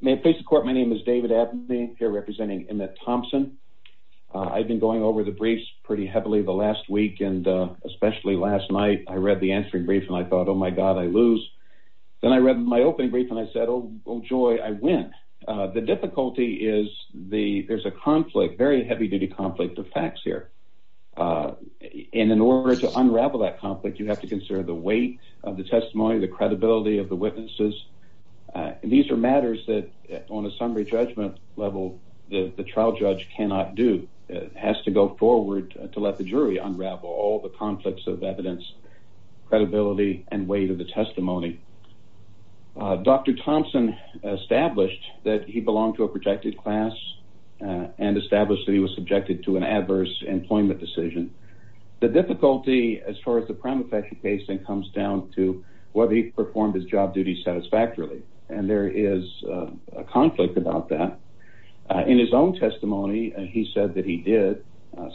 May it please the court, my name is David Abney here representing Emmitt Thompson. I've been going over the briefs pretty heavily the last week and especially last night I read the answering brief and I thought oh my god I lose. Then I read my opening brief and I said oh joy I win. The difficulty is the there's a conflict, very heavy-duty conflict of facts here and in order to unravel that conflict you have to consider the weight of the testimony, the credibility of the matters that on a summary judgment level the trial judge cannot do. It has to go forward to let the jury unravel all the conflicts of evidence, credibility, and weight of the testimony. Dr. Thompson established that he belonged to a protected class and established that he was subjected to an adverse employment decision. The difficulty as far as the crime effect he faced and comes down to whether he performed his job duty satisfactorily and there is a conflict about that. In his own testimony and he said that he did,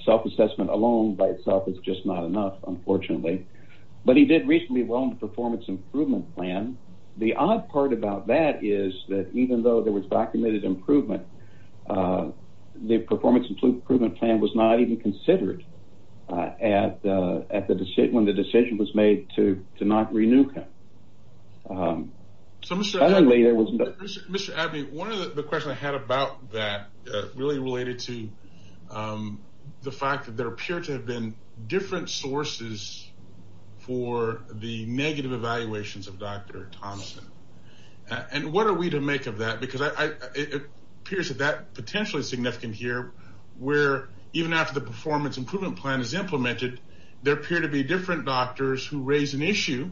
self-assessment alone by itself is just not enough unfortunately, but he did recently well in the performance improvement plan. The odd part about that is that even though there was documented improvement the performance improvement plan was not even considered at the decision when the decision was made to not renew him. Mr. Abbey, one of the questions I had about that really related to the fact that there appear to have been different sources for the negative evaluations of Dr. Thompson and what are we to make of that because it appears that that potentially significant here where even after the performance improvement plan is implemented there appear to be different doctors who raise an issue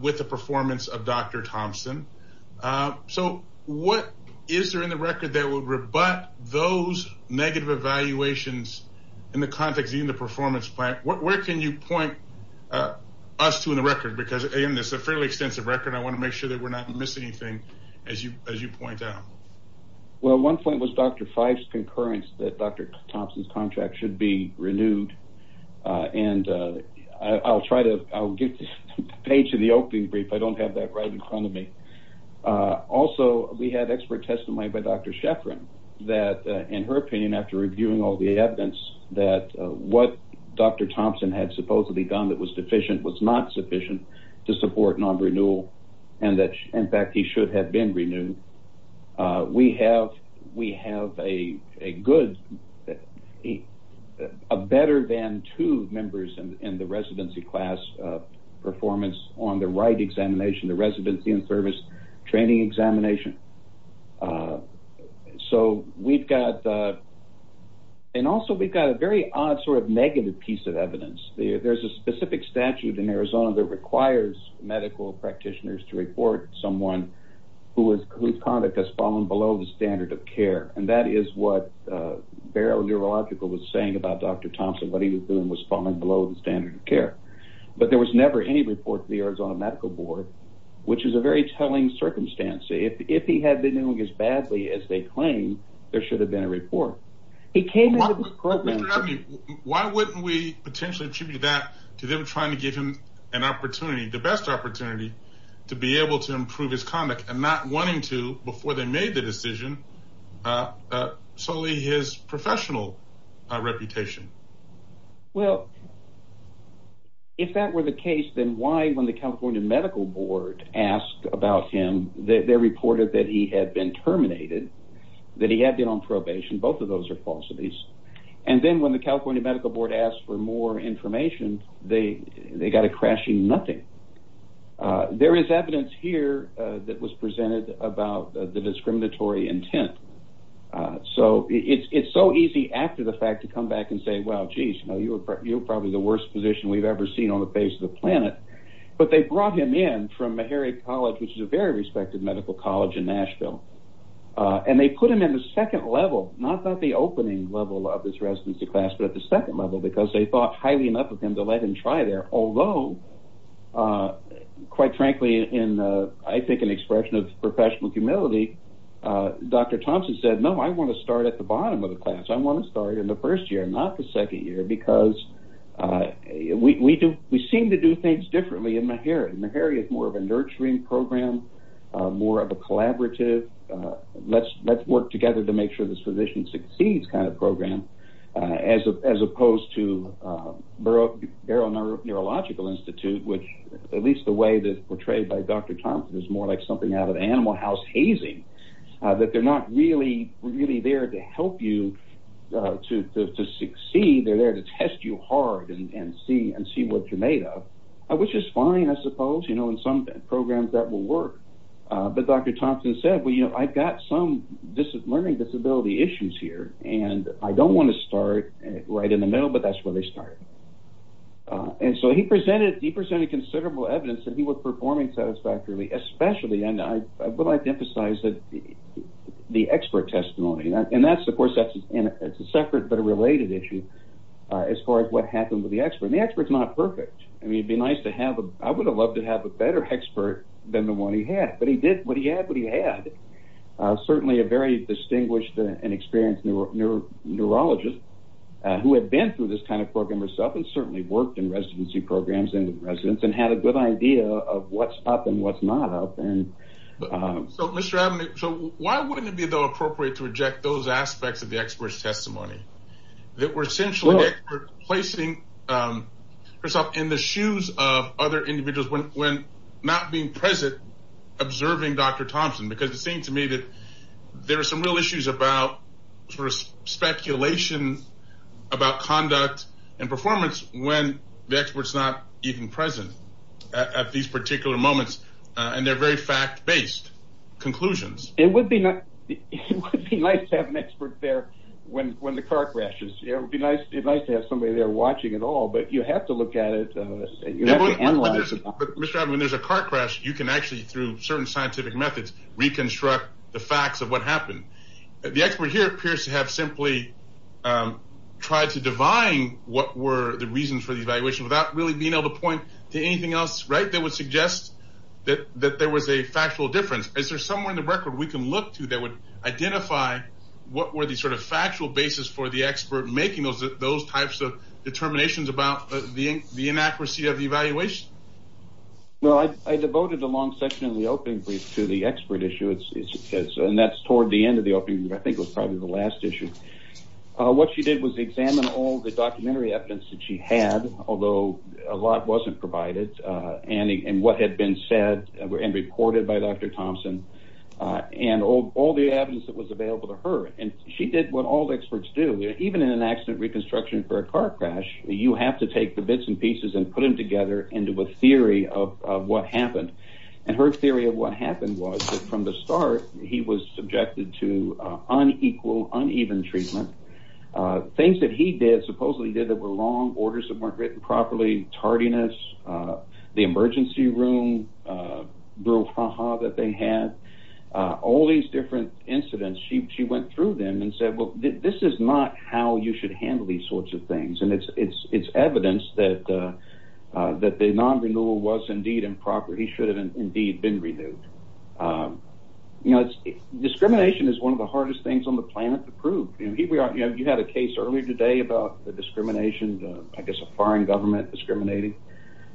with the performance of Dr. Thompson. So what is there in the record that would rebut those negative evaluations in the context in the performance plan? Where can you point us to in the record because in this a fairly extensive record I want to make sure that we're not missing anything as you as you point out. Well one point was Dr. Fife's I'll try to I'll get to page of the opening brief I don't have that right in front of me. Also we had expert testimony by Dr. Sheffrin that in her opinion after reviewing all the evidence that what Dr. Thompson had supposedly done that was deficient was not sufficient to support non-renewal and that in fact he should have been renewed. We have we have a good a better than two members in the residency class performance on the right examination the residency and service training examination. So we've got and also we've got a very odd sort of negative piece of evidence. There's a specific statute in Arizona that requires medical practitioners to report someone who is whose conduct has fallen below the standard of care and that is what Barrow Neurological was saying about Dr. Care. But there was never any report to the Arizona Medical Board which is a very telling circumstance. If he had been doing as badly as they claim there should have been a report. Why wouldn't we potentially attribute that to them trying to give him an opportunity the best opportunity to be able to improve his conduct and not wanting to before they made the decision solely his If that were the case then why when the California Medical Board asked about him they reported that he had been terminated that he had been on probation both of those are falsities and then when the California Medical Board asked for more information they they got a crashing nothing. There is evidence here that was presented about the discriminatory intent. So it's it's so easy after the fact to come back and say well jeez no you were probably the worst physician we've ever seen on the face of the planet but they brought him in from Meharry College which is a very respected medical college in Nashville and they put him in the second level not that the opening level of this residency class but at the second level because they thought highly enough of him to let him try there although quite frankly in I think an expression of professional humility Dr. Thompson said no I want to start at the bottom of the because we do we seem to do things differently in Meharry. Meharry is more of a nurturing program more of a collaborative let's let's work together to make sure this physician succeeds kind of program as opposed to Barrow Neurological Institute which at least the way that portrayed by Dr. Thompson is more like something out of the animal house hazing that they're not really really there to help you to succeed they're there to test you hard and see and see what you're made of which is fine I suppose you know in some programs that will work but Dr. Thompson said well you know I've got some learning disability issues here and I don't want to start right in the middle but that's where they started and so he presented he presented considerable evidence that he was performing satisfactorily especially and I would like to emphasize that the expert testimony and that's of course that's and it's a separate but a related issue as far as what happened with the expert the experts not perfect I mean it'd be nice to have a I would have loved to have a better expert than the one he had but he did what he had what he had certainly a very distinguished and experienced neuro neurologist who had been through this kind of program herself and certainly worked in residency programs and residents and had a good idea of what's up and what's not so why wouldn't it be though appropriate to reject those aspects of the experts testimony that were essentially placing herself in the shoes of other individuals when when not being present observing Dr. Thompson because it seemed to me that there are some real issues about first speculation about conduct and performance when the experts not even present at these particular moments and they're very fact-based conclusions it would be nice to have an expert there when when the car crashes it would be nice it's nice to have somebody there watching it all but you have to look at it when there's a car crash you can actually through certain scientific methods reconstruct the facts of what happened the expert here appears to have simply tried to divine what were the reasons for the evaluation without really being able to point to anything else right that would suggest that that there was a factual difference is there somewhere in the record we can look to that would identify what were the sort of factual basis for the expert making those those types of determinations about the the inaccuracy of the evaluation well I devoted a long section in the opening brief to the expert issue it's because and that's toward the end of the opening I think was probably the last issue what she did was examine all the documentary evidence that she had although a lot wasn't provided and what had been said and reported by Dr. Thompson and all the evidence that was available to her and she did what all experts do even in an accident reconstruction for a car crash you have to take the bits and pieces and put them together into a theory of what happened and her theory of what happened was from the start he was subjected to unequal uneven treatment things that he did supposedly did that were long orders that weren't written properly tardiness the emergency room brouhaha that they had all these different incidents she went through them and said well this is not how you should handle these sorts of things and it's it's it's evidence that that the non-renewal was indeed improper he should have indeed been renewed you know it's discrimination is one of the hardest things on the planet to prove and here we are you know you had a case earlier today about the discrimination I guess a foreign government discriminating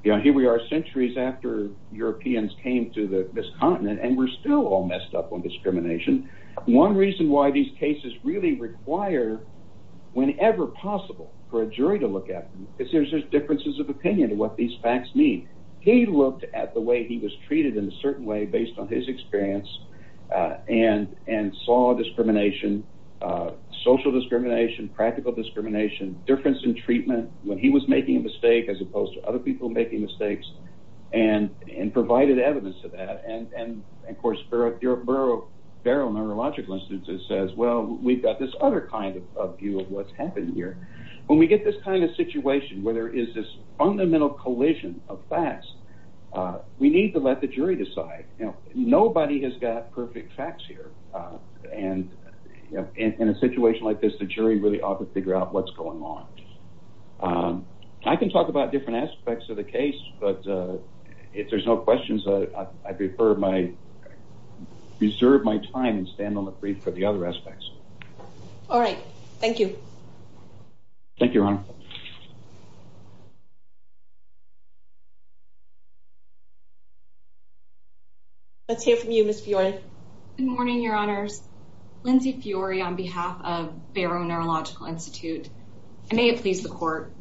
you know here we are centuries after Europeans came to the miscontinent and we're still all messed up on discrimination one reason why these cases really require whenever possible for a jury to look at because there's there's differences of opinion to what these facts mean he looked at the way he was treated in a certain way based on his experience and and saw discrimination social discrimination practical discrimination difference in stake as opposed to other people making mistakes and and provided evidence to that and and of course for a thorough thorough neurological instance it says well we've got this other kind of view of what's happened here when we get this kind of situation where there is this fundamental collision of facts we need to let the jury decide you know nobody has got perfect facts here and in a situation like this the jury really ought to figure out what's going on I can talk about different aspects of the case but if there's no questions I'd prefer my reserve my time and stand on the brink for the other aspects all right thank you thank your honor let's hear from you miss Fiona good morning your honors Lindsey Fiore on behalf of Barrow Neurological Institute and may it please the court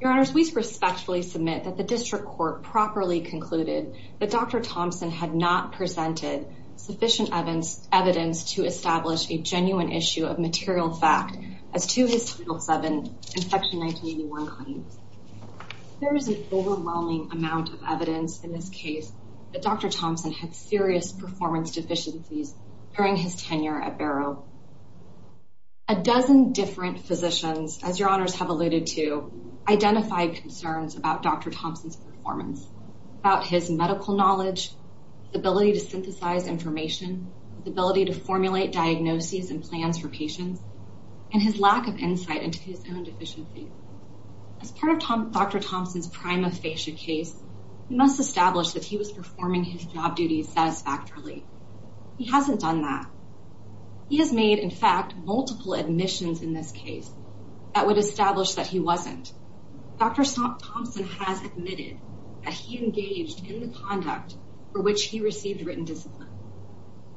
your honor we respectfully submit that the district court properly concluded that dr. Thompson had not presented sufficient evidence evidence to establish a genuine issue of material fact as to his title 7 infection 1981 claims there is an overwhelming amount of evidence in this case that dr. Thompson had serious performance deficiencies during his tenure at Barrow a dozen different physicians as your honors have alluded to identify concerns about dr. Thompson's performance about his medical knowledge ability to synthesize information the ability to formulate diagnoses and plans for patients and his lack of insight into his own deficiency as part of Tom dr. Thompson's prima facie case must establish that he was performing his job duties satisfactorily he hasn't done that he has made in fact multiple admissions in this case that would establish that he wasn't dr. Thompson has admitted that he engaged in the conduct for which he received written discipline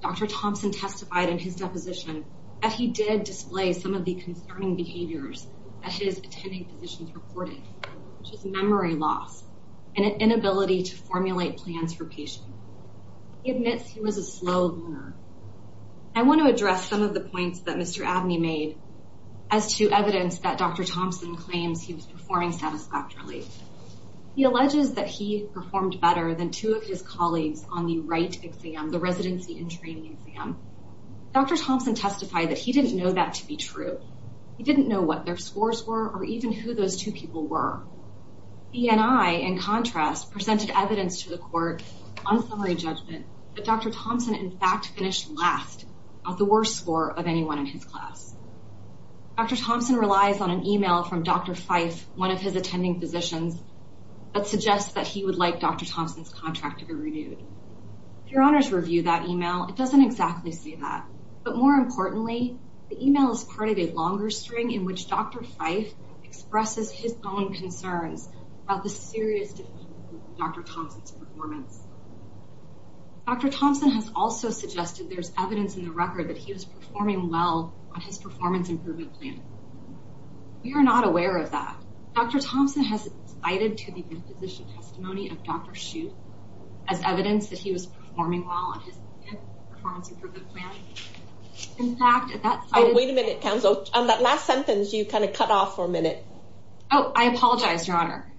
dr. Thompson testified in his deposition that he did display some of the concerning behaviors at his attending positions reported just memory loss and an inability to formulate plans for patient admits he was a slow learner I want to address some of the points that mr. Abney made as to evidence that dr. Thompson claims he was performing satisfactorily he alleges that he performed better than two of his colleagues on the right exam the residency and training exam dr. Thompson testified that he didn't know that to be true he didn't know what their scores were or even who those two people were he and I in contrast presented evidence to the court on summary judgment but dr. Thompson in fact finished last of the worst score of anyone in his class dr. Thompson relies on an email from dr. Fife one of his attending physicians that suggests that he would like dr. Thompson's contract to be renewed your honors review that email it doesn't exactly say that but more importantly the email is part of a longer string in which dr. Fife expresses his own concerns about the serious dr. Thompson's performance dr. Thompson has also suggested there's evidence in the record that he was performing well on his performance improvement plan we are not aware of that dr. Thompson has cited to the position testimony of dr. shoot as evidence that he was performing well on in fact wait a minute council on that last sentence you kind of cut off for a minute oh I apologize your honor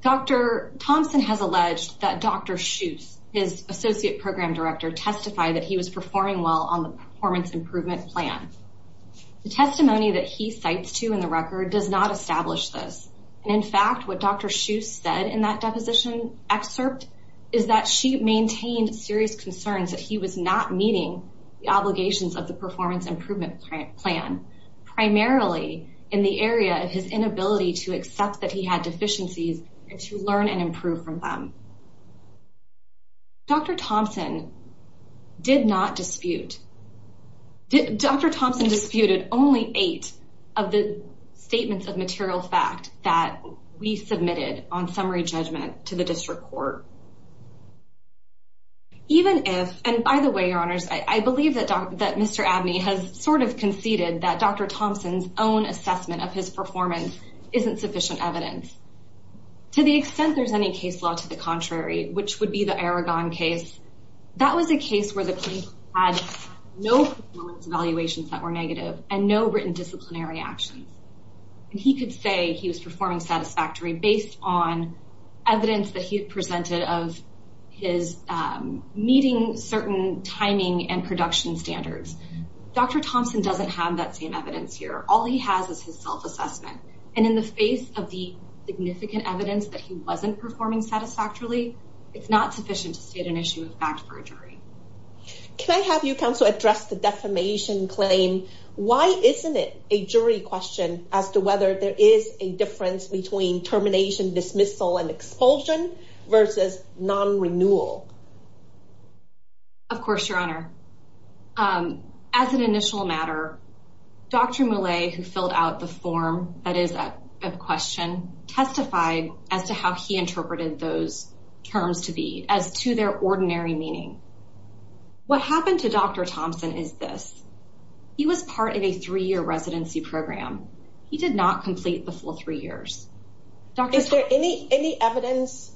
dr. Thompson has alleged that dr. shoes his associate program director testified that he was performing well on the performance improvement plan the testimony that he cites to in the record does not establish this and in fact what dr. shoes said in that deposition excerpt is that she maintained serious concerns that he was not meeting the obligations of the performance improvement plan primarily in the area of his inability to accept that he had deficiencies and to learn and improve from them dr. Thompson did not dispute dr. Thompson disputed only eight of the statements of the district court even if and by the way your honors I believe that dr. that mr. Abney has sort of conceded that dr. Thompson's own assessment of his performance isn't sufficient evidence to the extent there's any case law to the contrary which would be the Aragon case that was a case where the police had no evaluations that were negative and no written disciplinary actions and he could he was performing satisfactory based on evidence that he presented of his meeting certain timing and production standards dr. Thompson doesn't have that same evidence here all he has is his self-assessment and in the face of the significant evidence that he wasn't performing satisfactorily it's not sufficient to state an issue of fact for a jury can I have you come so address the defamation claim why isn't it a jury question as to whether there is a difference between termination dismissal and expulsion versus non-renewal of course your honor as an initial matter dr. Millay who filled out the form that is a question testified as to how he interpreted those terms to be as to their ordinary meaning what happened to dr. Thompson is this he was part of a three-year residency program he did not complete the full three years is there any any evidence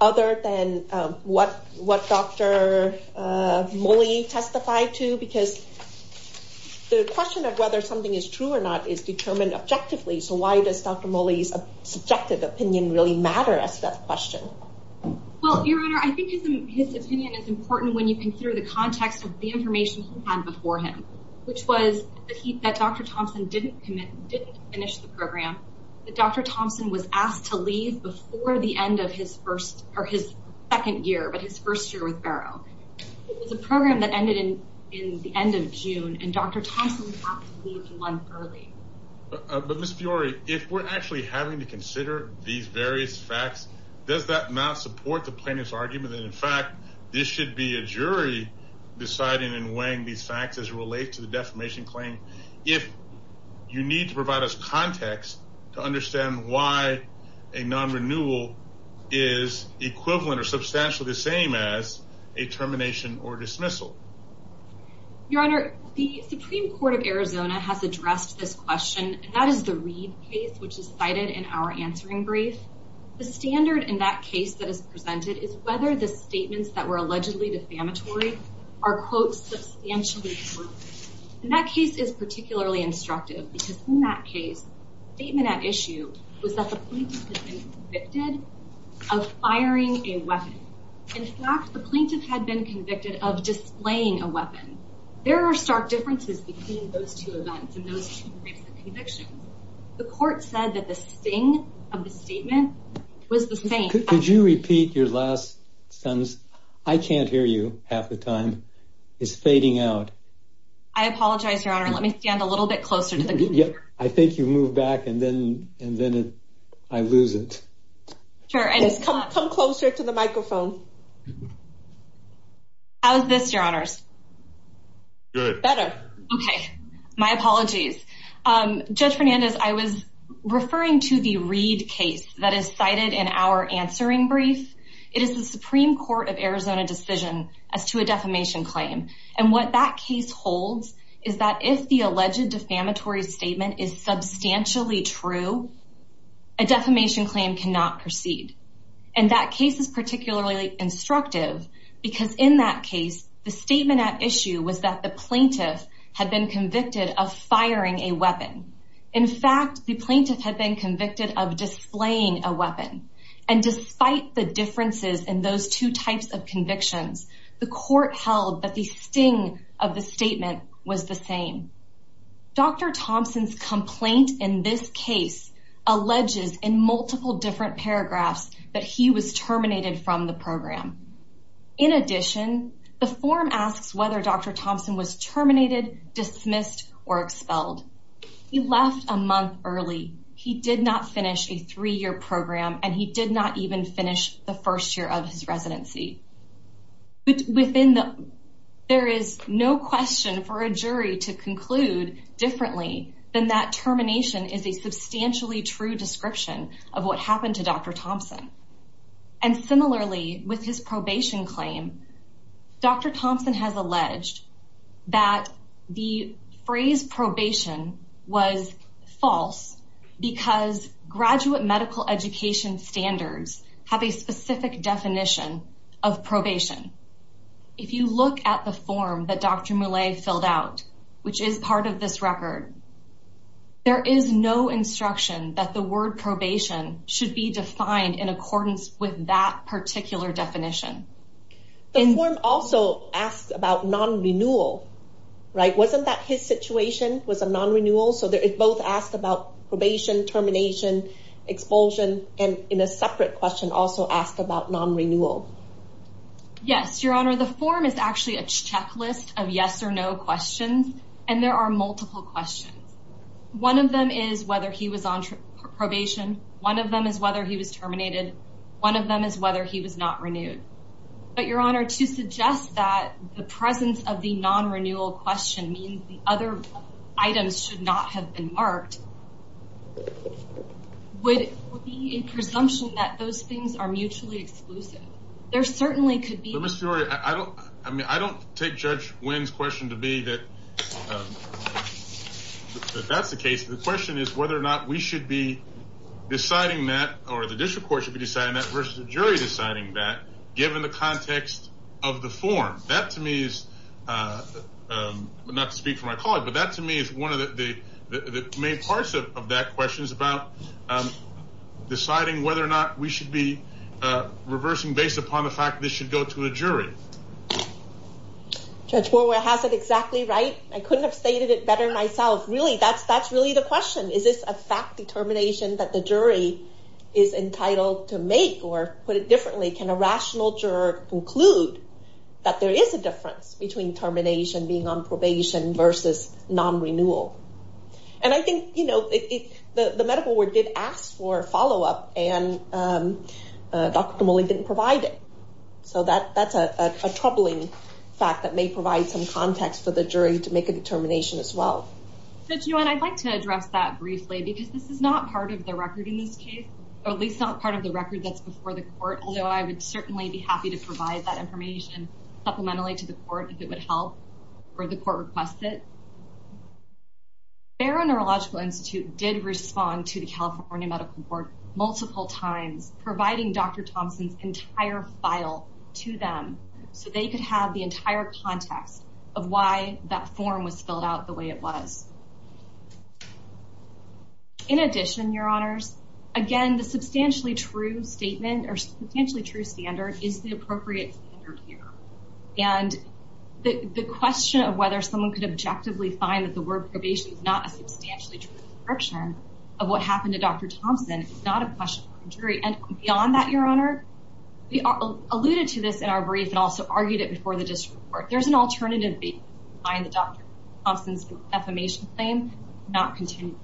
other than what what dr. Mollie testified to because the question of whether something is true or not is determined objectively so why does dr. Mollie's subjective opinion really matter as to that question well your honor I think his opinion is important when you think through the context of the information had before him which was that dr. Thompson didn't commit didn't finish the program but dr. Thompson was asked to leave before the end of his first or his second year but his first year with Barrow it's a program that ended in in the end of June and dr. Thompson but miss Fiore if we're actually having to consider these various facts does that not support the plaintiff's argument that in fact this should be a jury deciding and weighing these facts as relate to the defamation claim if you need to provide us context to understand why a non-renewal is equivalent or substantially the same as a termination or dismissal your honor the Supreme Court of Arizona has addressed this question that is the read case which is in our answering brief the standard in that case that is presented is whether the statements that were allegedly defamatory are quote substantially in that case is particularly instructive because in that case statement at issue was that the convicted of firing a weapon in fact the plaintiff had been convicted of displaying a weapon there are stark differences between those two the court said that the sting of the statement was the same could you repeat your last sentence I can't hear you half the time it's fading out I apologize your honor let me stand a little bit closer to the yeah I think you move back and then and then I lose it sure I just come closer to the microphone how's this good better okay my apologies judge Fernandez I was referring to the read case that is cited in our answering brief it is the Supreme Court of Arizona decision as to a defamation claim and what that case holds is that if the alleged defamatory statement is substantially true a defamation claim cannot proceed and that case is particularly instructive because in that case the statement at issue was that the plaintiff had been convicted of firing a weapon in fact the plaintiff had been convicted of displaying a weapon and despite the differences in those two types of convictions the court held that the sting of the statement was the same dr. Thompson's complaint in this case alleges in multiple different paragraphs that he was terminated from the program in addition the form asks whether dr. Thompson was terminated dismissed or expelled he left a month early he did not finish a three-year program and he did not even finish the first year of his residency but within the there is no question for a jury to conclude differently than that termination is a substantially true description of what happened to dr. Thompson's probation claim. Dr. Thompson has alleged that the phrase probation was false because graduate medical education standards have a specific definition of probation if you look at the form that dr. Millais filled out which is part of this record there is no instruction that the word probation should be defined in accordance with that particular definition. The form also asked about non-renewal right wasn't that his situation was a non-renewal so there is both asked about probation termination expulsion and in a separate question also asked about non-renewal. Yes your honor the form is actually a checklist of yes or no questions and there are multiple questions one of them is whether he was on probation one of them is whether he was terminated one of them is whether he was not renewed but your honor to suggest that the presence of the non-renewal question means other items should not have been marked would be a presumption that those things are mutually exclusive there certainly could be. I don't I mean I don't take judge Wynn's question to be that that's the case the question is whether or not we should be deciding that or the district court should be deciding that versus the jury deciding that given the context of the form that to me is not to speak for my colleague but that to me is one of the main parts of that question is about deciding whether or not we should be reversing based upon the fact this should go to a jury. Judge Borwell has it exactly right I couldn't have stated it better myself really that's that's really the question is this a fact determination that the jury is entitled to make or put it differently can a rational juror conclude that there is a difference between termination being on probation versus non-renewal and I think you know the medical word did ask for follow-up and Dr. Tomoli didn't provide it so that that's a troubling fact that may provide some context for the jury to make a determination as well. Judge Wynn I'd like to address that briefly because this is not part of the record in this case or at least not part of the record that's before the court although I would certainly be happy to provide that information supplementally to the court if it would help or the court requests it. Barrow Neurological Institute did respond to the California Medical Board multiple times providing Dr. Thompson's entire file to them so they could have the entire context of why that form was filled out the way it was. In addition your honors again the substantially true statement or potentially true standard is the appropriate standard here and the question of whether someone could objectively find that the word probation is not a substantially true description of what happened to Dr. Thompson is not a question for the jury and beyond that your honor we alluded to this in our brief and also argued it before the district court there's an alternative basis to find Dr. Thompson's defamation claim not continued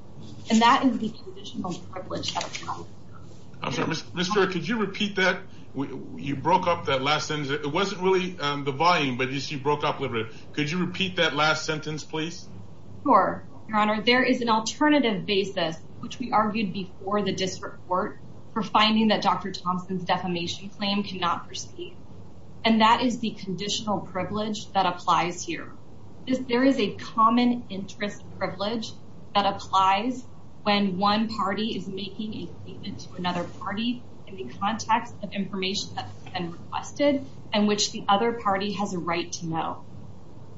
and that is the conditional privilege. Mr. could you repeat that we you broke up that last sentence it wasn't really the volume but you see broke up a little bit could you repeat that last sentence please? Sure your honor there is an alternative basis which we argued before the district court for finding that Dr. Thompson's defamation claim cannot proceed and that is the conditional privilege that applies here. There is a common interest privilege that applies when one party is making a statement to another party in the context of information that's been requested and which the other party has a right to know.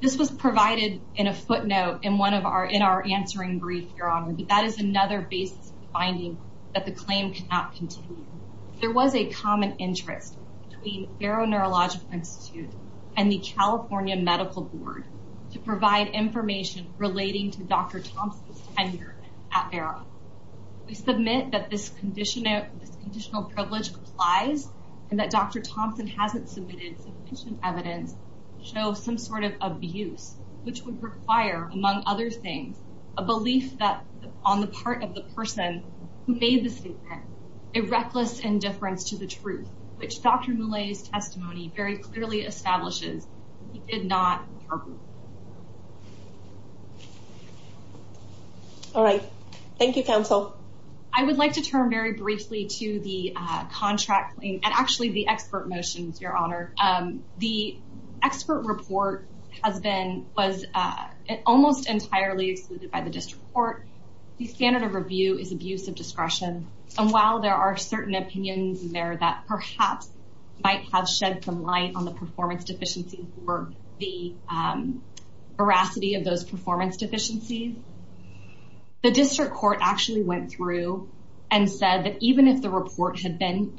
This was provided in a footnote in one of our in our answering brief your honor that is another basis of finding that the claim cannot continue. There was a common interest between Barrow Neurological Institute and the California Medical Board to provide information relating to Dr. Thompson's tenure at Barrow. We submit that this conditional privilege applies and that Dr. Thompson hasn't submitted sufficient evidence to show some sort of things a belief that on the part of the person who made the statement a reckless indifference to the truth which Dr. Millais testimony very clearly establishes he did not. All right thank you counsel. I would like to turn very briefly to the contract and actually the expert motions your honor. The expert report has been was almost entirely excluded by the district court. The standard of review is abuse of discretion and while there are certain opinions in there that perhaps might have shed some light on the performance deficiencies or the veracity of those performance deficiencies. The district court actually went through and said that even if the report had been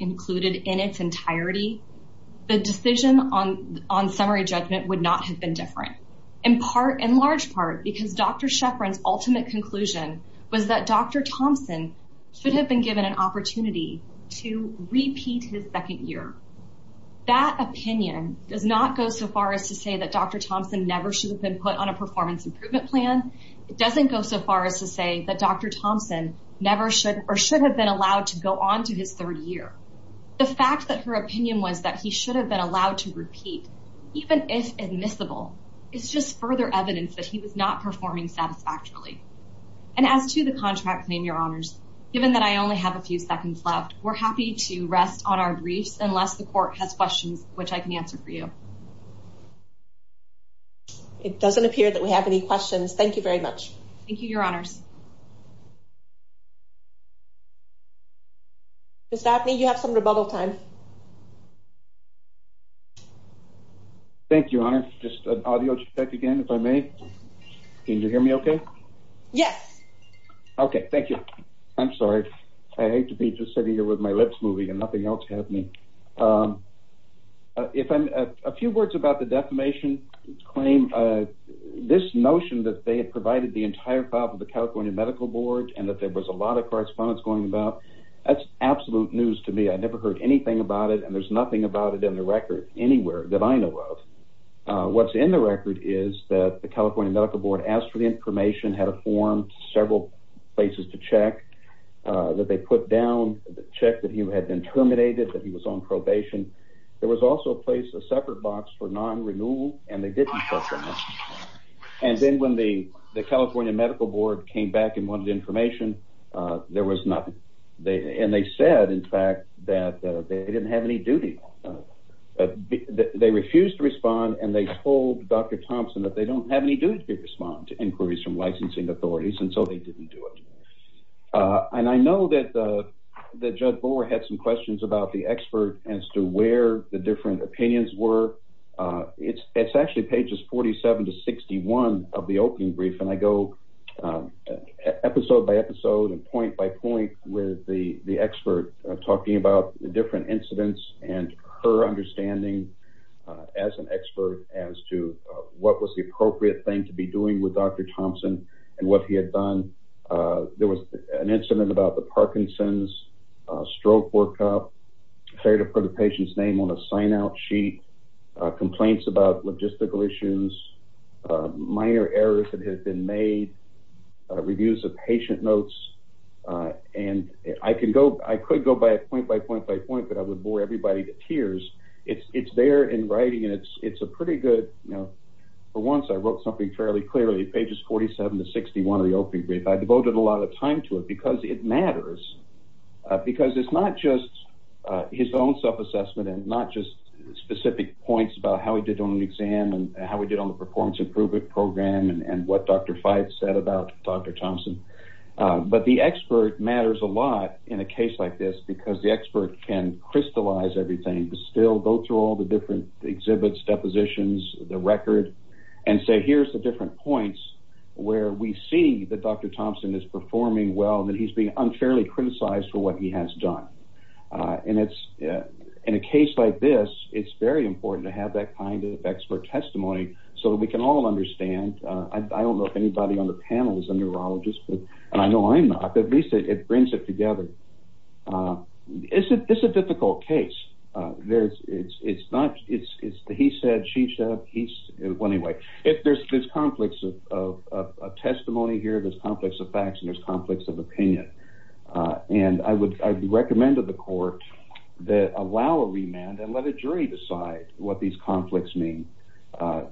different in part in large part because Dr. Sheffrin's ultimate conclusion was that Dr. Thompson should have been given an opportunity to repeat his second year. That opinion does not go so far as to say that Dr. Thompson never should have been put on a performance improvement plan. It doesn't go so far as to say that Dr. Thompson never should or should have been allowed to go on to his third year. The fact that her opinion was that he should have been allowed to repeat even if admissible it's just further evidence that he was not performing satisfactorily. And as to the contract claim your honors given that I only have a few seconds left we're happy to rest on our briefs unless the court has questions which I can answer for you. It doesn't appear that we have any questions. Thank you very much. Thank you your honors. Ms. Dabney you have some rebuttal time. Thank you your honor. Just an audio check again if I may. Can you hear me okay? Yes. Okay thank you. I'm sorry. I hate to be just sitting here with my lips moving and nothing else happening. If I'm a few words about the defamation claim this notion that they had provided the entire file of the California Medical Board and that there was a lot of correspondence going about that's absolute news to me. I never heard anything about it and there's nothing about it in the record anywhere that I know of. What's in the record is that the California Medical Board asked for the information had a form several places to check that they put down the check that he had been terminated that he was on probation. There was also a place a separate box for non-renewal and they didn't and then when the the California Medical Board came back and wanted information there was nothing. They and they said in fact that they didn't have any duty. They refused to respond and they told Dr. Thompson that they don't have any duty to respond to inquiries from licensing authorities and so they didn't do it. And I know that the judge bore had some questions about the expert as to where the different opinions were. It's it's actually pages 47 to 61 of the opening brief and I go episode by episode and point by point with the the expert talking about the different incidents and her understanding as an expert as to what was the appropriate thing to be doing with Dr. Thompson and what he had done. There was an incident about the Parkinson's, stroke workup, failure to put a patient's name on a sign-out sheet, complaints about logistical issues, minor errors that had been made, reviews of patient notes and I can go I could go by a point by point by point but I would bore everybody to tears. It's it's there in writing and it's it's a pretty good you know for once I wrote something fairly clearly pages 47 to 61 of the opening brief. I devoted a lot of time to it because it matters because it's not just his own self-assessment and not just specific points about how he did on an exam and how we did on the performance improvement program and what Dr. Fyatt said about Dr. Thompson but the expert matters a lot in a case like this because the expert can crystallize everything to still go through all the different exhibits depositions the record and say here's the different points where we see that Dr. Thompson is performing well that he's being unfairly criticized for what he has done and it's in a case like this it's very important to have that kind of expert testimony so we can all understand. I don't know if anybody on the panel is a neurologist and I know I'm not but at least it brings it together. It's a difficult case. There's it's it's not it's it's he said she said he's anyway if there's this conflicts of testimony here there's conflicts of facts and there's conflicts of opinion and I would recommend to the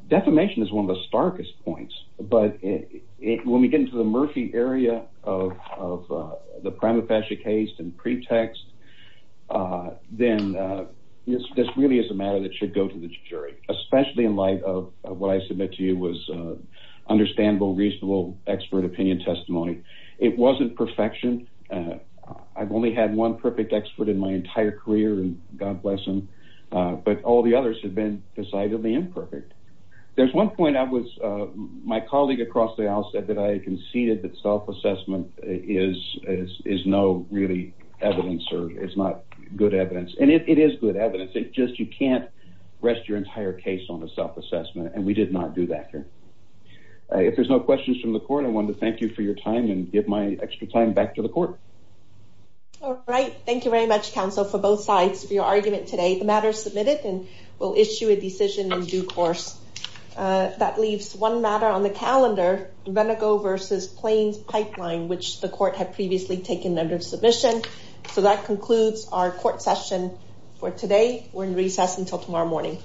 defamation is one of the starkest points but it when we get into the murky area of the prima facie case and pretext then this really is a matter that should go to the jury especially in light of what I submit to you was understandable reasonable expert opinion testimony. It wasn't perfection. I've only had one perfect expert in my entire career and God bless him but all the others have decidedly imperfect. There's one point I was my colleague across the aisle said that I conceded that self-assessment is is no really evidence or it's not good evidence and it is good evidence it's just you can't rest your entire case on a self-assessment and we did not do that here. If there's no questions from the court I wanted to thank you for your time and give my extra time back to the court. All right thank you very much counsel for both sides for your argument today. The matter is submitted and we'll issue a decision in due course. That leaves one matter on the calendar Renegaux versus Plains pipeline which the court had previously taken under submission. So that concludes our court session for today. We're in recess until tomorrow morning.